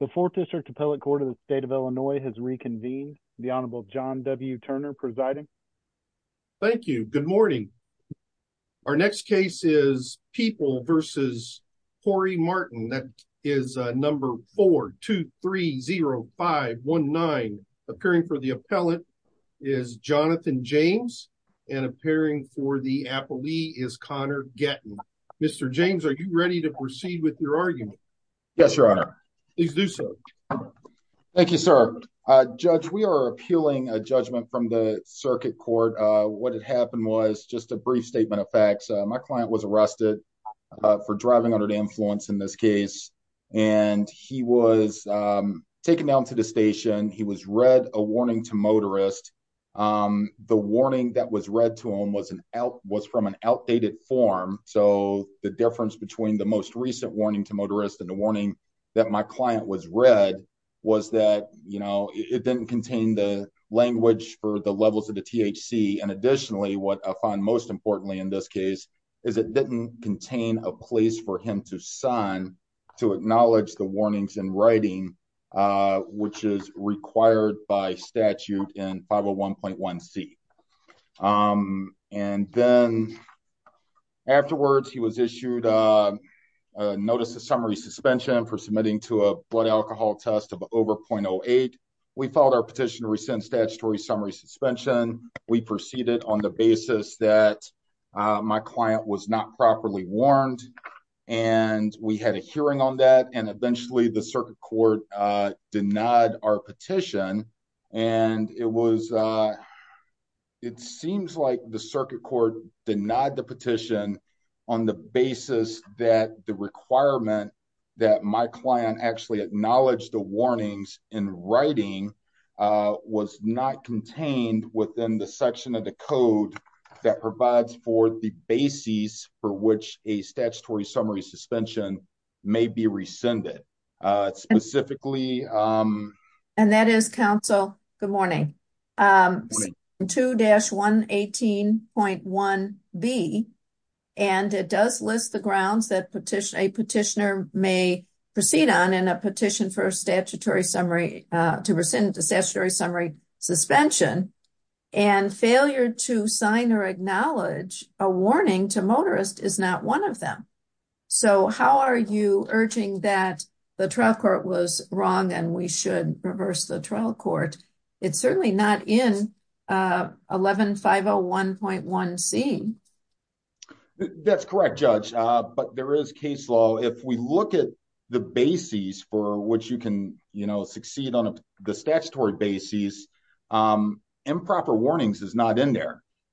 The Fourth District Appellate Court of the State of Illinois has reconvened. The Honorable John W. Turner presiding. Thank you. Good morning. Our next case is People v. Corey Martin. That is number 4-2-3-0-5-1-9. Appearing for the appellate is Jonathan James and appearing for the appellee is Connor Gatton. Mr. James, are you ready to proceed with your argument? Yes, Your Honor. Please do so. Thank you, sir. Judge, we are appealing a judgment from the circuit court. What had happened was just a brief statement of facts. My client was arrested for driving under the influence in this case, and he was taken down to the station. He was read a warning to motorists. The warning that was read to him was from an outdated form, so the difference between the recent warning to motorists and the warning that my client was read was that it didn't contain the language for the levels of the THC. Additionally, what I find most important in this case is that it didn't contain a place for him to sign to acknowledge the warnings in writing, which is required by statute in 501.1c. And then afterwards, he was issued a notice of summary suspension for submitting to a blood alcohol test of over .08. We filed our petition to rescind statutory summary suspension. We proceeded on the basis that my client was not properly warned, and we had a hearing on that, and eventually the circuit court denied our petition. It seems like the circuit court denied the petition on the basis that the requirement that my client actually acknowledged the warnings in writing was not contained within the section of the code that provides for the specifically. And that is, counsel, good morning. 2-118.1b, and it does list the grounds that a petitioner may proceed on in a petition for a statutory summary to rescind the statutory summary suspension, and failure to sign or acknowledge a warning to motorists is not one of them. So how are you urging that the trial court was wrong and we should reverse the trial court? It's certainly not in 11501.1c. That's correct, Judge, but there is case law. If we look at the bases for which you can, you know, succeed on the statutory bases, improper warnings is not in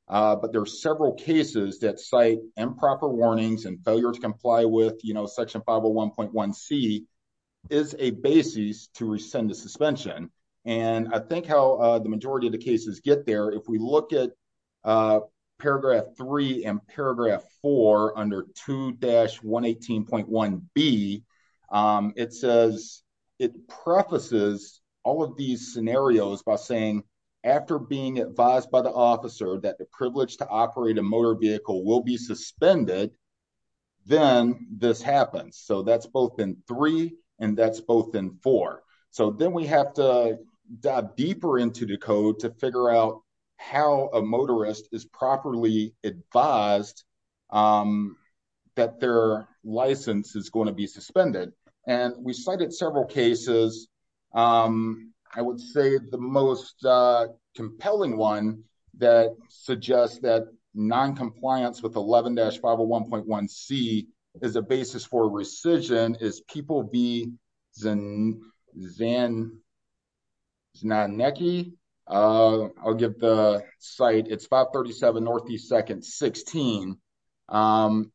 but there are several cases that cite improper warnings and failure to comply with, you know, section 501.1c is a basis to rescind the suspension. And I think how the majority of the cases get there, if we look at paragraph 3 and paragraph 4 under 2-118.1b, it says, it prefaces all of these scenarios by saying, after being advised by the officer that the privilege to operate a motor vehicle will be suspended, then this happens. So that's both in 3 and that's both in 4. So then we have to dive deeper into the code to figure out how a motorist is properly advised that their license is going to be suspended. And we cited several cases. I would say the most compelling one that suggests that non-compliance with 11-501.1c is a basis for rescission is 11-537.16.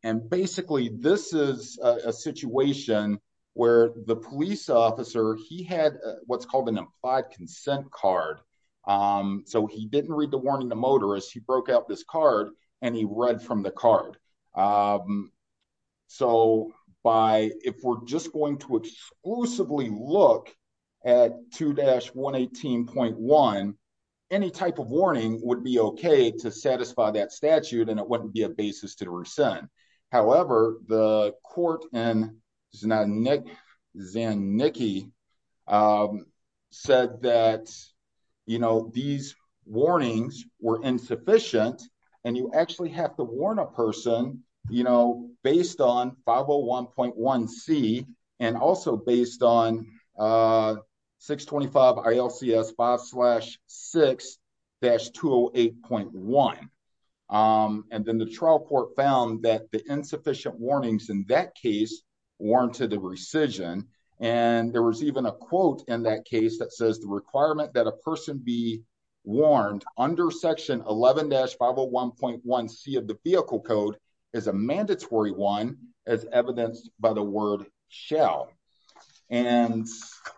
And basically, this is a situation where the police officer, he had what's called an implied consent card. So he didn't read the warning to motorists, he broke out this card and he read from the card. So if we're just going to exclusively look at 2-118.1, any type of warning would be okay to satisfy that statute and it wouldn't be a basis to rescind. However, the court in Zanicki said that these warnings were insufficient and you actually have to warn a person based on 501.1c and also based on 625 ILCS 5-6-208.1. And then the trial court found that the insufficient warnings in that case warranted the rescission. And there was even a quote in that case that says the requirement that a person be warned under section 11-501.1c of the vehicle code is a mandatory one as evidenced by the word shall. And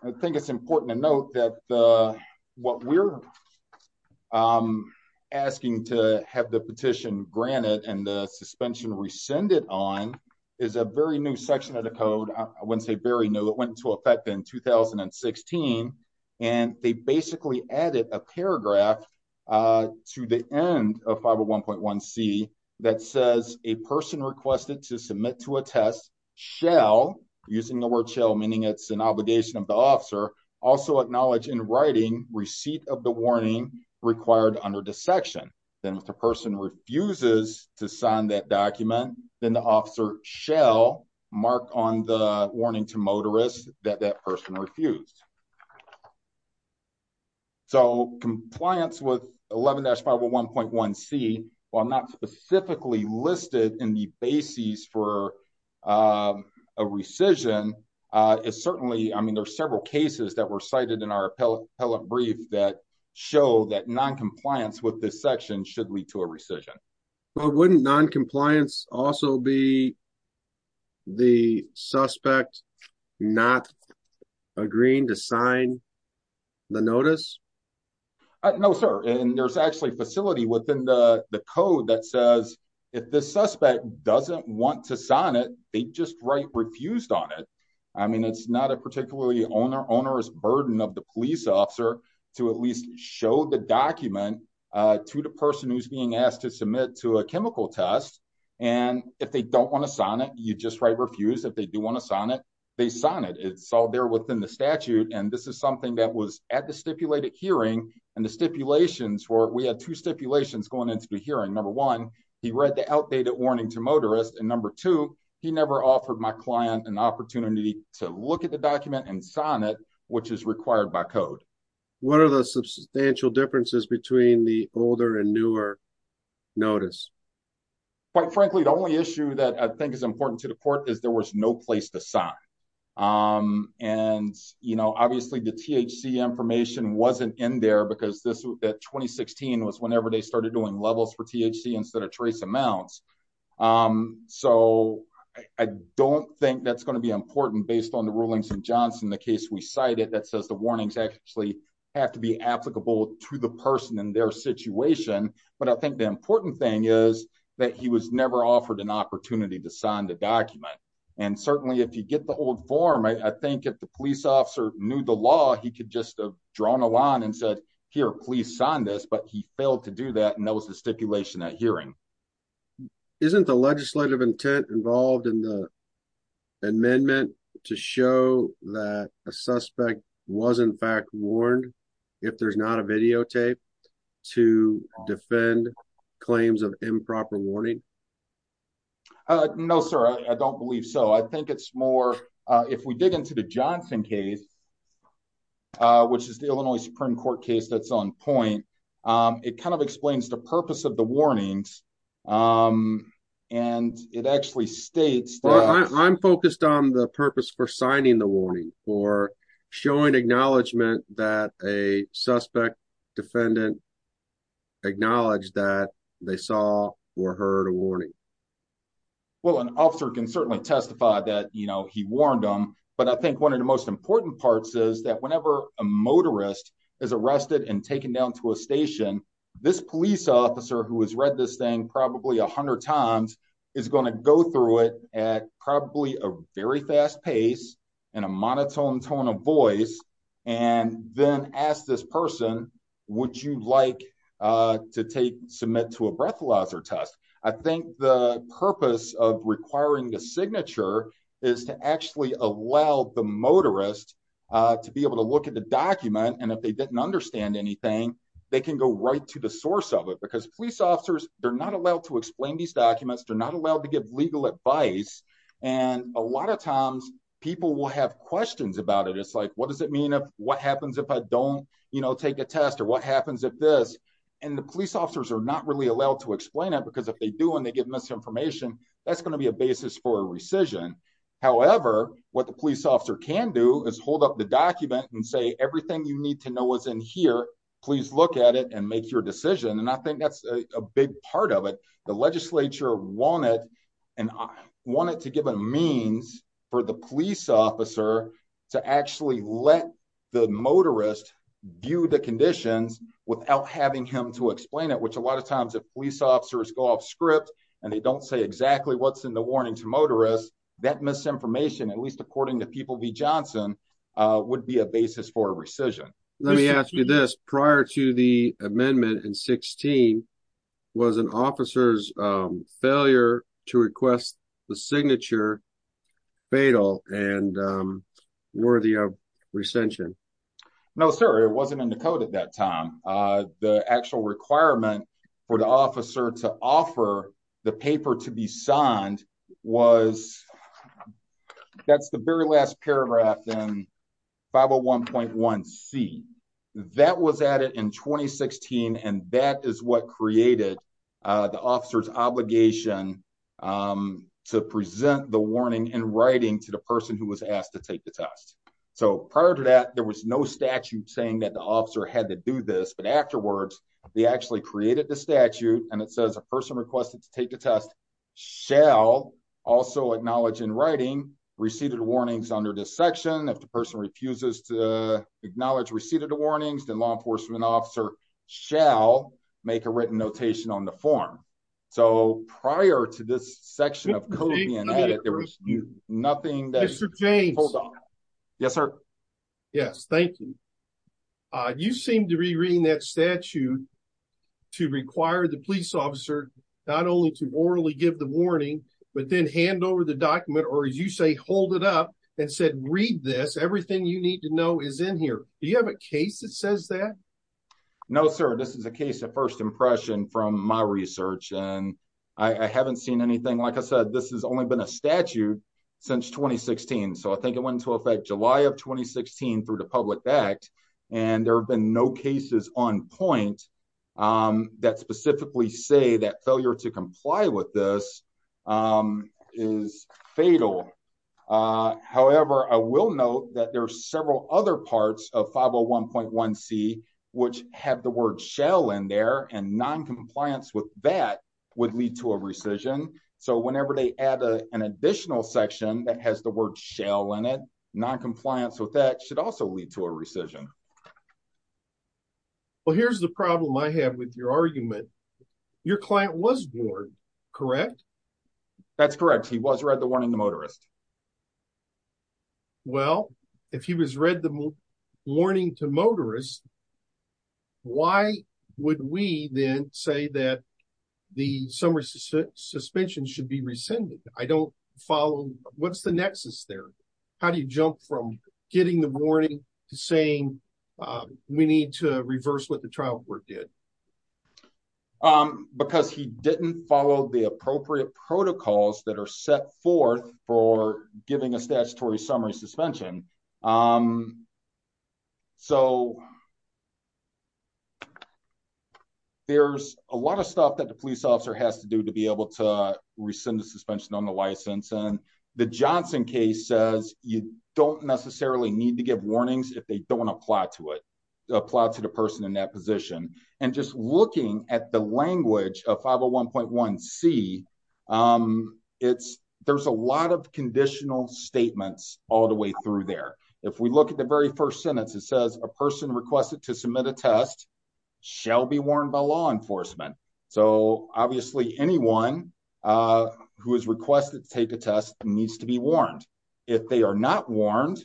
I think it's important to note that what we're asking to have the petition granted and the suspension rescinded on is a very new section of the code. I wouldn't say very new, it went into effect in 2016. And they basically added a paragraph to the end of 501.1c that says a person requested to submit to a test shall, using the word shall meaning it's an obligation of the officer, also acknowledge in writing receipt of the warning required under dissection. Then if the person refuses to sign that document, then the officer shall mark on the warning to motorists that that person refused. So compliance with 11-501.1c while not specifically listed in the basis for a rescission is certainly, I mean there's several cases that were cited in our appellate brief that show that non-compliance with this section should lead to a rescission. But wouldn't non-compliance also be the suspect not agreeing to sign the notice? No sir, and there's actually a facility within the code that says if the suspect doesn't want to sign it, they just write refused on it. I mean it's not a particularly onerous burden of the chemical test. And if they don't want to sign it, you just write refused. If they do want to sign it, they sign it. It's all there within the statute. And this is something that was at the stipulated hearing and the stipulations were, we had two stipulations going into the hearing. Number one, he read the outdated warning to motorists. And number two, he never offered my client an opportunity to look at the document and sign it, which is required by code. What are the substantial differences between the older and newer notice? Quite frankly, the only issue that I think is important to the court is there was no place to sign. And you know, obviously the THC information wasn't in there because this, that 2016 was whenever they started doing levels for THC instead of trace amounts. So I don't think that's going to be important based on the rulings in Johnson, the case we cited that says the warnings actually have to be applicable to the person in their situation. But I think the important thing is that he was never offered an opportunity to sign the document. And certainly if you get the old form, I think if the police officer knew the law, he could just have drawn a line and said, here, please sign this. But he failed to do that. And that was the stipulation at hearing. Isn't the legislative intent involved in the amendment to show that a suspect was in fact warned if there's not a videotape to defend claims of improper warning? No, sir, I don't believe so. I think it's more if we dig into the Johnson case, which is the Illinois Supreme Court case, that's on point. It kind of explains the purpose of the warnings. And it actually states that I'm focused on the purpose for signing the warning for showing acknowledgement that a suspect defendant acknowledged that they saw or heard a warning. Well, an officer can certainly testify that he warned them. But I think one of the most important parts is that whenever a motorist is arrested and taken down to a station, this police officer who has read this thing probably 100 times is going to go through it at probably a very fast pace, and a monotone tone of voice, and then ask this person, would you like to take submit to a breathalyzer test, I think the purpose of requiring the signature is to actually allow the motorist to be able to look at the document. And if they didn't understand anything, they can go right to the source of it. Because police officers, they're not allowed to explain these documents, they're not allowed to give legal advice. And a lot of times, people will have questions about it. It's like, what does it mean if what happens if I don't, you know, take a test or what happens if this, and the police officers are not really allowed to explain it, because if they do, and they give misinformation, that's going to be a basis for rescission. However, what the police officer can do is hold up the document and say, everything you need to know was in here, please look at it and make your decision. And I think that's a big part of it. The legislature wanted, and I wanted to give a means for the police officer to actually let the motorist view the conditions without having him to explain it, which a lot of times if police officers go off script, and they don't say exactly what's in the warning to motorists, that misinformation, at least according to people v. Johnson, would be a basis for rescission. Let me ask you this prior to the amendment in 16, was an officer's failure to request the signature fatal and worthy of recension? No, sir, it wasn't in the code at that time. The actual requirement for the officer to offer the paper to be signed was, that's the very last paragraph in 501.1c. That was added in 2016. And that is what created the officer's obligation to present the warning in writing to the person who was asked to take the test. So prior to that, there was no statute saying that the officer had to do this. But afterwards, they actually created the statute and it says a person requested to take the test shall also acknowledge in writing received warnings under this section. If the person refuses to acknowledge received the warnings, the law enforcement officer shall make a written notation on the form. So prior to this section of coding, there was nothing. Mr. James. Yes, sir. Yes, thank you. You seem to be reading that statute to require the police officer not only to orally give the warning, but then hand over the document or as you say, hold it up and said, read this. Everything you need to know is in here. Do you have a case that says that? No, sir. This is a case of first impression from my research and I haven't seen anything. Like I said, this has only been a statute since 2016. So I think it went into effect July of 2016 through the public backed and there have been no cases on point that specifically say that failure to comply with this is fatal. However, I will note that there are several other parts of 501.1 C, which have the word shell in there and noncompliance with that would lead to a rescission. So whenever they add a, an additional section that has the word shell in it, noncompliance with that should also lead to a rescission. Well, here's the problem I have with your argument. Your client was born, correct? That's correct. He was read the one in the motorist. Okay. Well, if he was read the warning to motorists, why would we then say that the summer suspension should be rescinded? I don't follow. What's the nexus there? How do you jump from getting the warning to saying we need to reverse what the trial court did? Um, because he didn't follow the appropriate protocols that are set forth for giving a statutory summary suspension. Um, so there's a lot of stuff that the police officer has to do to be able to rescind the suspension on the license. And the Johnson case says you don't necessarily need to give warnings if they don't want to apply to it, apply to the person in that looking at the language of 501.1 C. Um, it's, there's a lot of conditional statements all the way through there. If we look at the very first sentence, it says a person requested to submit a test shall be warned by law enforcement. So obviously anyone, uh, who has requested to take a test needs to be warned if they are not warned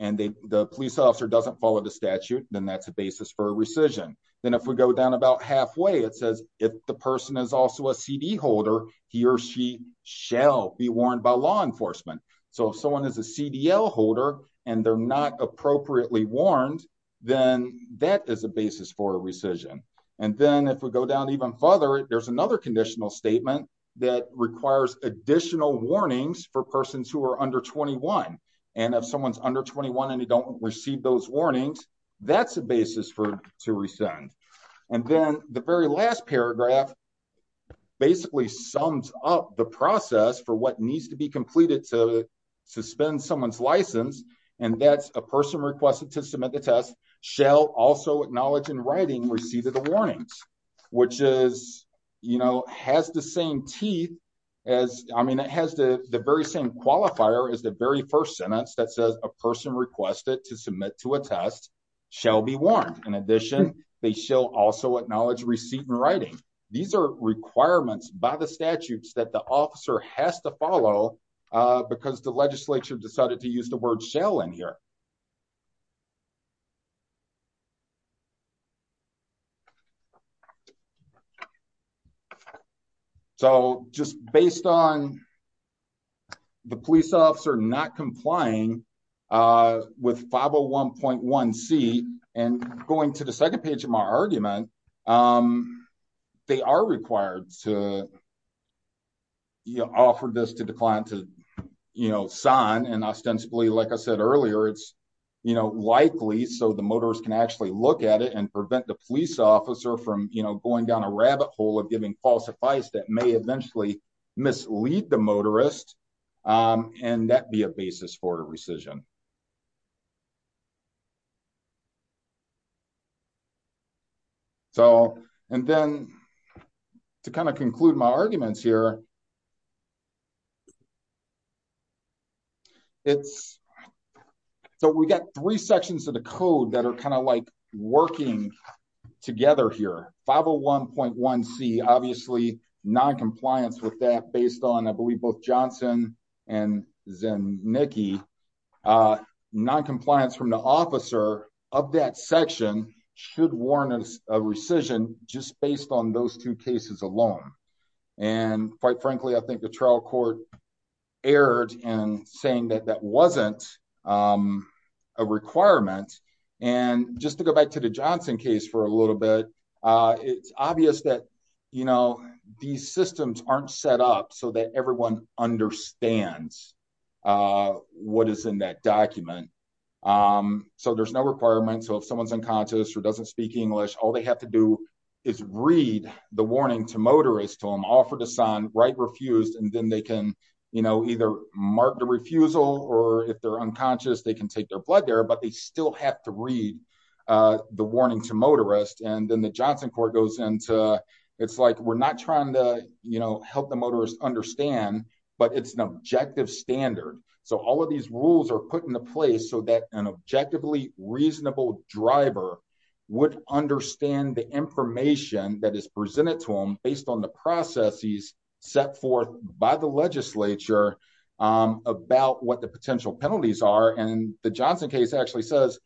and they, the police officer doesn't follow the statute, then that's a basis for a rescission. Then if we go down about halfway, it says if the person is also a CD holder, he or she shall be warned by law enforcement. So if someone is a CDL holder and they're not appropriately warned, then that is a basis for a rescission. And then if we go down even further, there's another conditional statement that requires additional warnings for persons who are under 21. And if someone's under 21 and don't receive those warnings, that's a basis for, to rescind. And then the very last paragraph basically sums up the process for what needs to be completed to suspend someone's license. And that's a person requested to submit the test shall also acknowledge in writing, receive the warnings, which is, you know, has the same teeth as, I mean, it has the very same is the very first sentence that says a person requested to submit to a test shall be warned. In addition, they shall also acknowledge receipt in writing. These are requirements by the statutes that the officer has to follow because the legislature decided to use the word shall in here. So just based on the police officer not complying with 501.1C and going to the second page of my argument, they are required to offer this to the client to sign. And ostensibly, like I said earlier, it's likely so the motorist can actually look at it and prevent the police officer from going down a rabbit hole of giving false advice that may eventually mislead the motorist. And that'd be a basis for a rescission. So, and then to kind of conclude my arguments here, it's so we got three sections of the code that are kind of like working together here. 501.1C, obviously noncompliance with that based on, I believe both Johnson and Zinnicke, noncompliance from the officer of that section should warrant a rescission just based on those two cases alone. And quite frankly, I think the trial court erred in saying that that wasn't a requirement. And just to go back to the Johnson case for a little bit, it's obvious that, you know, these systems aren't set up so that everyone understands what is in that document. So there's no requirement. So if someone's unconscious or doesn't speak English, all they have to do is read the warning to motorists to them, offer to sign, write refused, and then they can, you know, either mark the refusal or if they're unconscious, they can take their blood there, but they still have to read the warning to motorists. And then the Johnson court goes into, it's like, we're not trying to, you know, help the motorists understand, but it's an objective standard. So all of these rules are put into place so that an objectively reasonable driver would understand the information that is presented to them based on the processes set forth by the legislature about what the potential penalties are. And the Johnson case actually says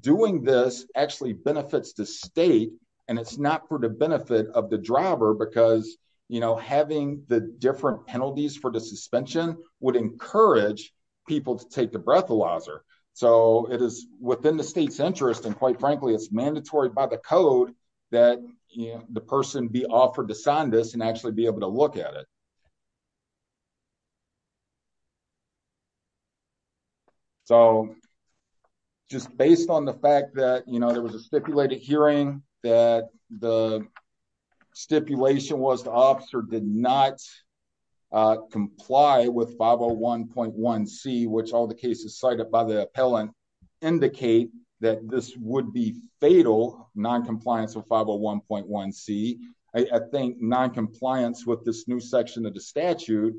doing this actually benefits the state and it's not for the benefit of the driver because, you know, having the different penalties for the suspension would encourage people to take the breathalyzer. So it is within the state's interest. And quite frankly, it's mandatory by the code that the person be offered to sign this and actually be able to look at it. So just based on the fact that, you know, there was a stipulated hearing that the stipulation was the officer did not comply with 501.1 C, which all the cases cited by the appellant indicate that this would be fatal noncompliance with 501.1 C. I think noncompliance with this new section of the statute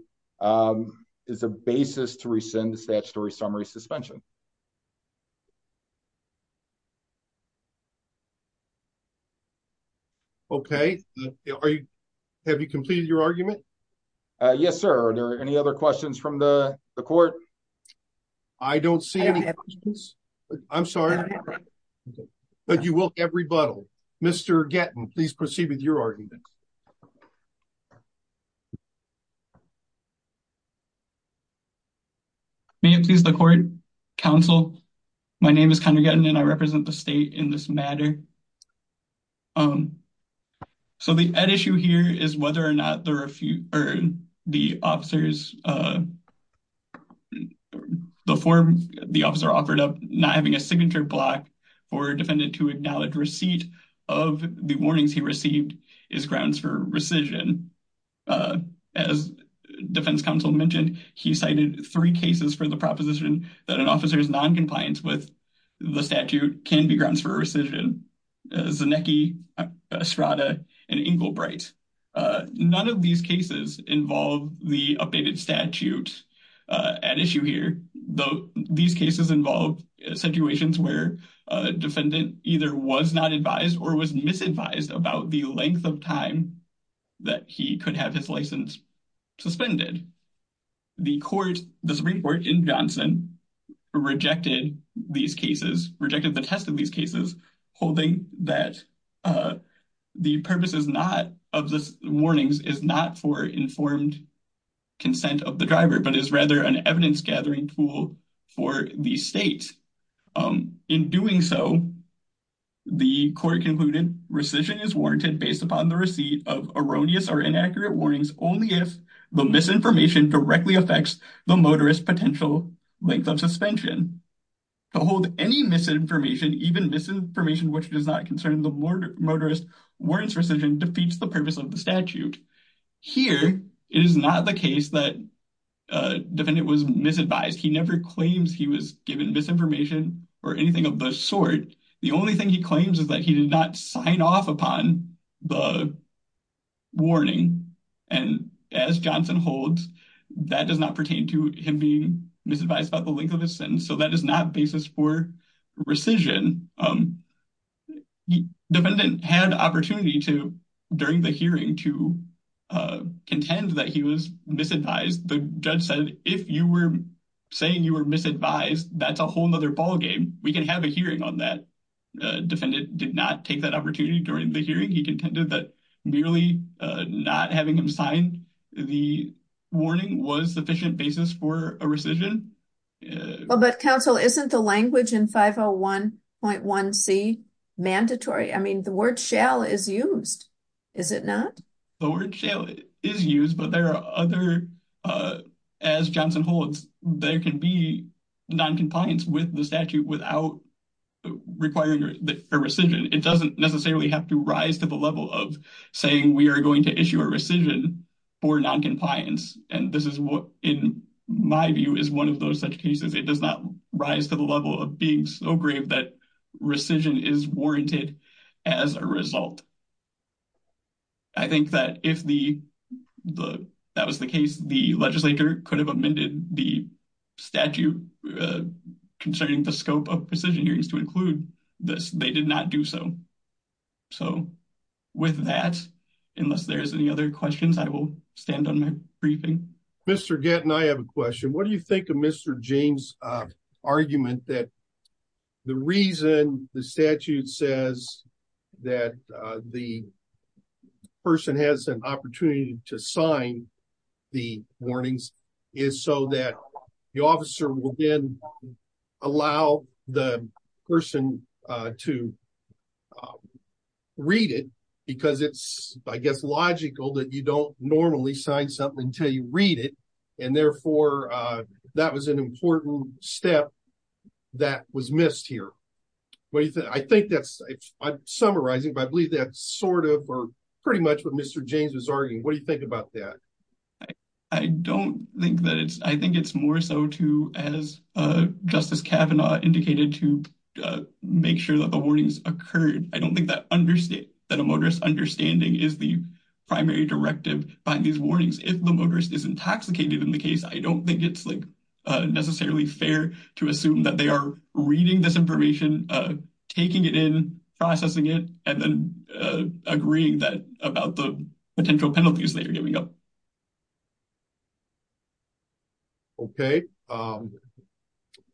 is a basis to rescind the statutory summary suspension. Okay. Have you completed your argument? Yes, sir. Are there any other questions from the court? I don't see any questions. I'm sorry. But you will get rebuttal. Mr. Gettin, please proceed with your argument. May it please the court, counsel. My name is Conor Gettin and I represent the state in this matter. So the issue here is whether or not the officer offered up not having a signature block for a defendant to acknowledge receipt of the warnings he received is grounds for rescission. As defense counsel mentioned, he cited three cases for the proposition that an officer's noncompliance with the statute can be grounds for rescission. Zanecki, Estrada, and Englebright. None of these cases involve the updated statute at issue here, though these cases involve situations where a defendant either was not advised or was misadvised about the length of time that he could have his license suspended. The court, the Supreme Court in Johnson, rejected these cases, rejected the test of these cases, holding that the purpose is not of the warnings is not for informed consent of the driver, but is rather an evidence gathering tool for these states. In doing so, the court concluded rescission is warranted based upon the receipt of erroneous or inaccurate warnings only if the misinformation directly affects the motorist potential length of suspension. To hold any misinformation, even misinformation which does not concern the motorist, warrants rescission defeats the purpose of the statute. Here, it is not the case that a defendant was misadvised. He never claims he was given misinformation or anything of the sort. The only thing he claims is that he did not sign off upon the warning, and as Johnson holds, that does not pertain to him being misadvised about the length of his sentence, so that is not basis for rescission. The defendant had opportunity during the hearing to contend that he was misadvised. The judge said, if you were saying you were misadvised, that is a whole other ballgame. We can have a hearing on that. Defendant did not take that opportunity during the hearing. He contended that merely not having him sign the warning was sufficient basis for a rescission. But counsel, isn't the language in 501.1c mandatory? The word shall is used, is it not? The word shall is used, but as Johnson holds, there can be noncompliance with the statute without requiring a rescission. It does not necessarily have to rise to the level of saying we are going to issue a rescission for noncompliance. This is what, in my view, is one of those such cases. It does not rise to the level of being so grave that rescission is warranted as a result. I think that if that was the case, the legislature could have amended the statute concerning the scope of rescission hearings to include this. They did not do so. With that, unless there are any other questions, I will stand on my briefing. Mr. Gatton, I have a question. What do you think of Mr. James' argument that the reason the statute says that the person has an opportunity to sign the warnings is so that the officer will then allow the person to read it because it's, I guess, logical that you don't sign something until you read it. Therefore, that was an important step that was missed here. I'm summarizing, but I believe that's pretty much what Mr. James was arguing. What do you think about that? I think it's more so, as Justice Kavanaugh indicated, to make sure that the warnings occurred. I don't think that a understanding is the primary directive behind these warnings. If the motorist is intoxicated in the case, I don't think it's necessarily fair to assume that they are reading this information, taking it in, processing it, and then agreeing about the potential penalties they are giving up. Okay.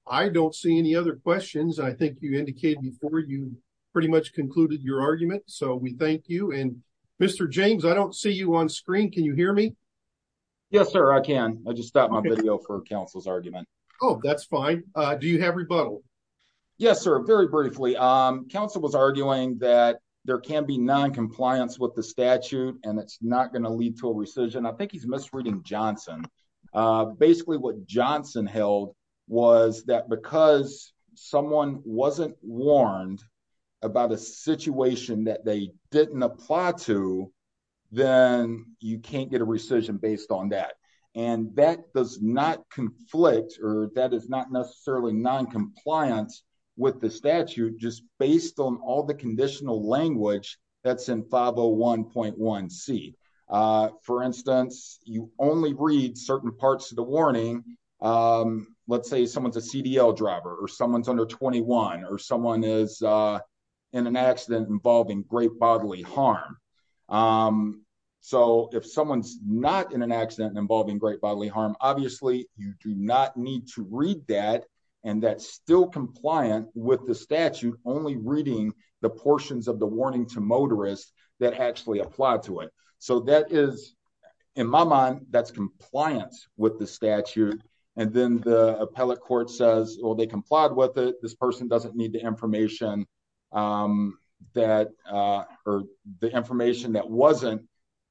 I don't see any other questions. I think you indicated before you concluded your argument. We thank you. Mr. James, I don't see you on screen. Can you hear me? Yes, sir. I can. I just stopped my video for counsel's argument. Oh, that's fine. Do you have rebuttal? Yes, sir. Very briefly, counsel was arguing that there can be non-compliance with the statute and it's not going to lead to a rescission. I think he's misreading Johnson. Basically, what Johnson held was that because someone wasn't warned about a situation that they didn't apply to, then you can't get a rescission based on that. That does not conflict or that is not necessarily non-compliance with the statute just based on all the conditional language that's in 501.1c. For instance, you only read certain parts of the or someone is in an accident involving great bodily harm. If someone's not in an accident involving great bodily harm, obviously, you do not need to read that and that's still compliant with the statute, only reading the portions of the warning to motorists that actually apply to it. In my mind, that's compliance with the statute. Then the appellate court says, they complied with it, this person doesn't need the information that wasn't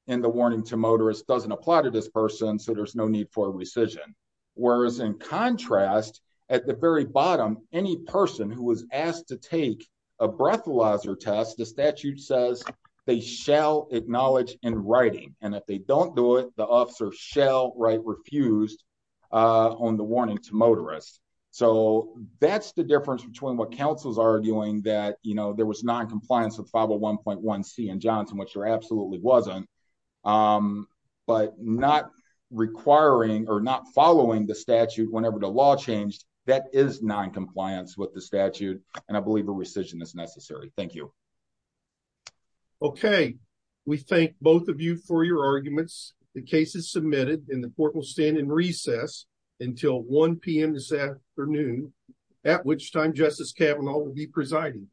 in the warning to motorists, doesn't apply to this person, so there's no need for a rescission. Whereas in contrast, at the very bottom, any person who was asked to take a breathalyzer test, the statute says they shall acknowledge in writing. If they don't do it, the officer shall write refused on the warning to motorists. That's the difference between what counsels are arguing that there was non-compliance with 501.1c and Johnson, which there absolutely wasn't, but not requiring or not following the statute whenever the law changed, that is non-compliance with the statute and I believe a rescission is necessary. Thank you. Okay. We thank both of you for your arguments. The case is submitted and the court will stand in recess until 1 p.m. this afternoon, at which time Justice Kavanaugh will be presiding.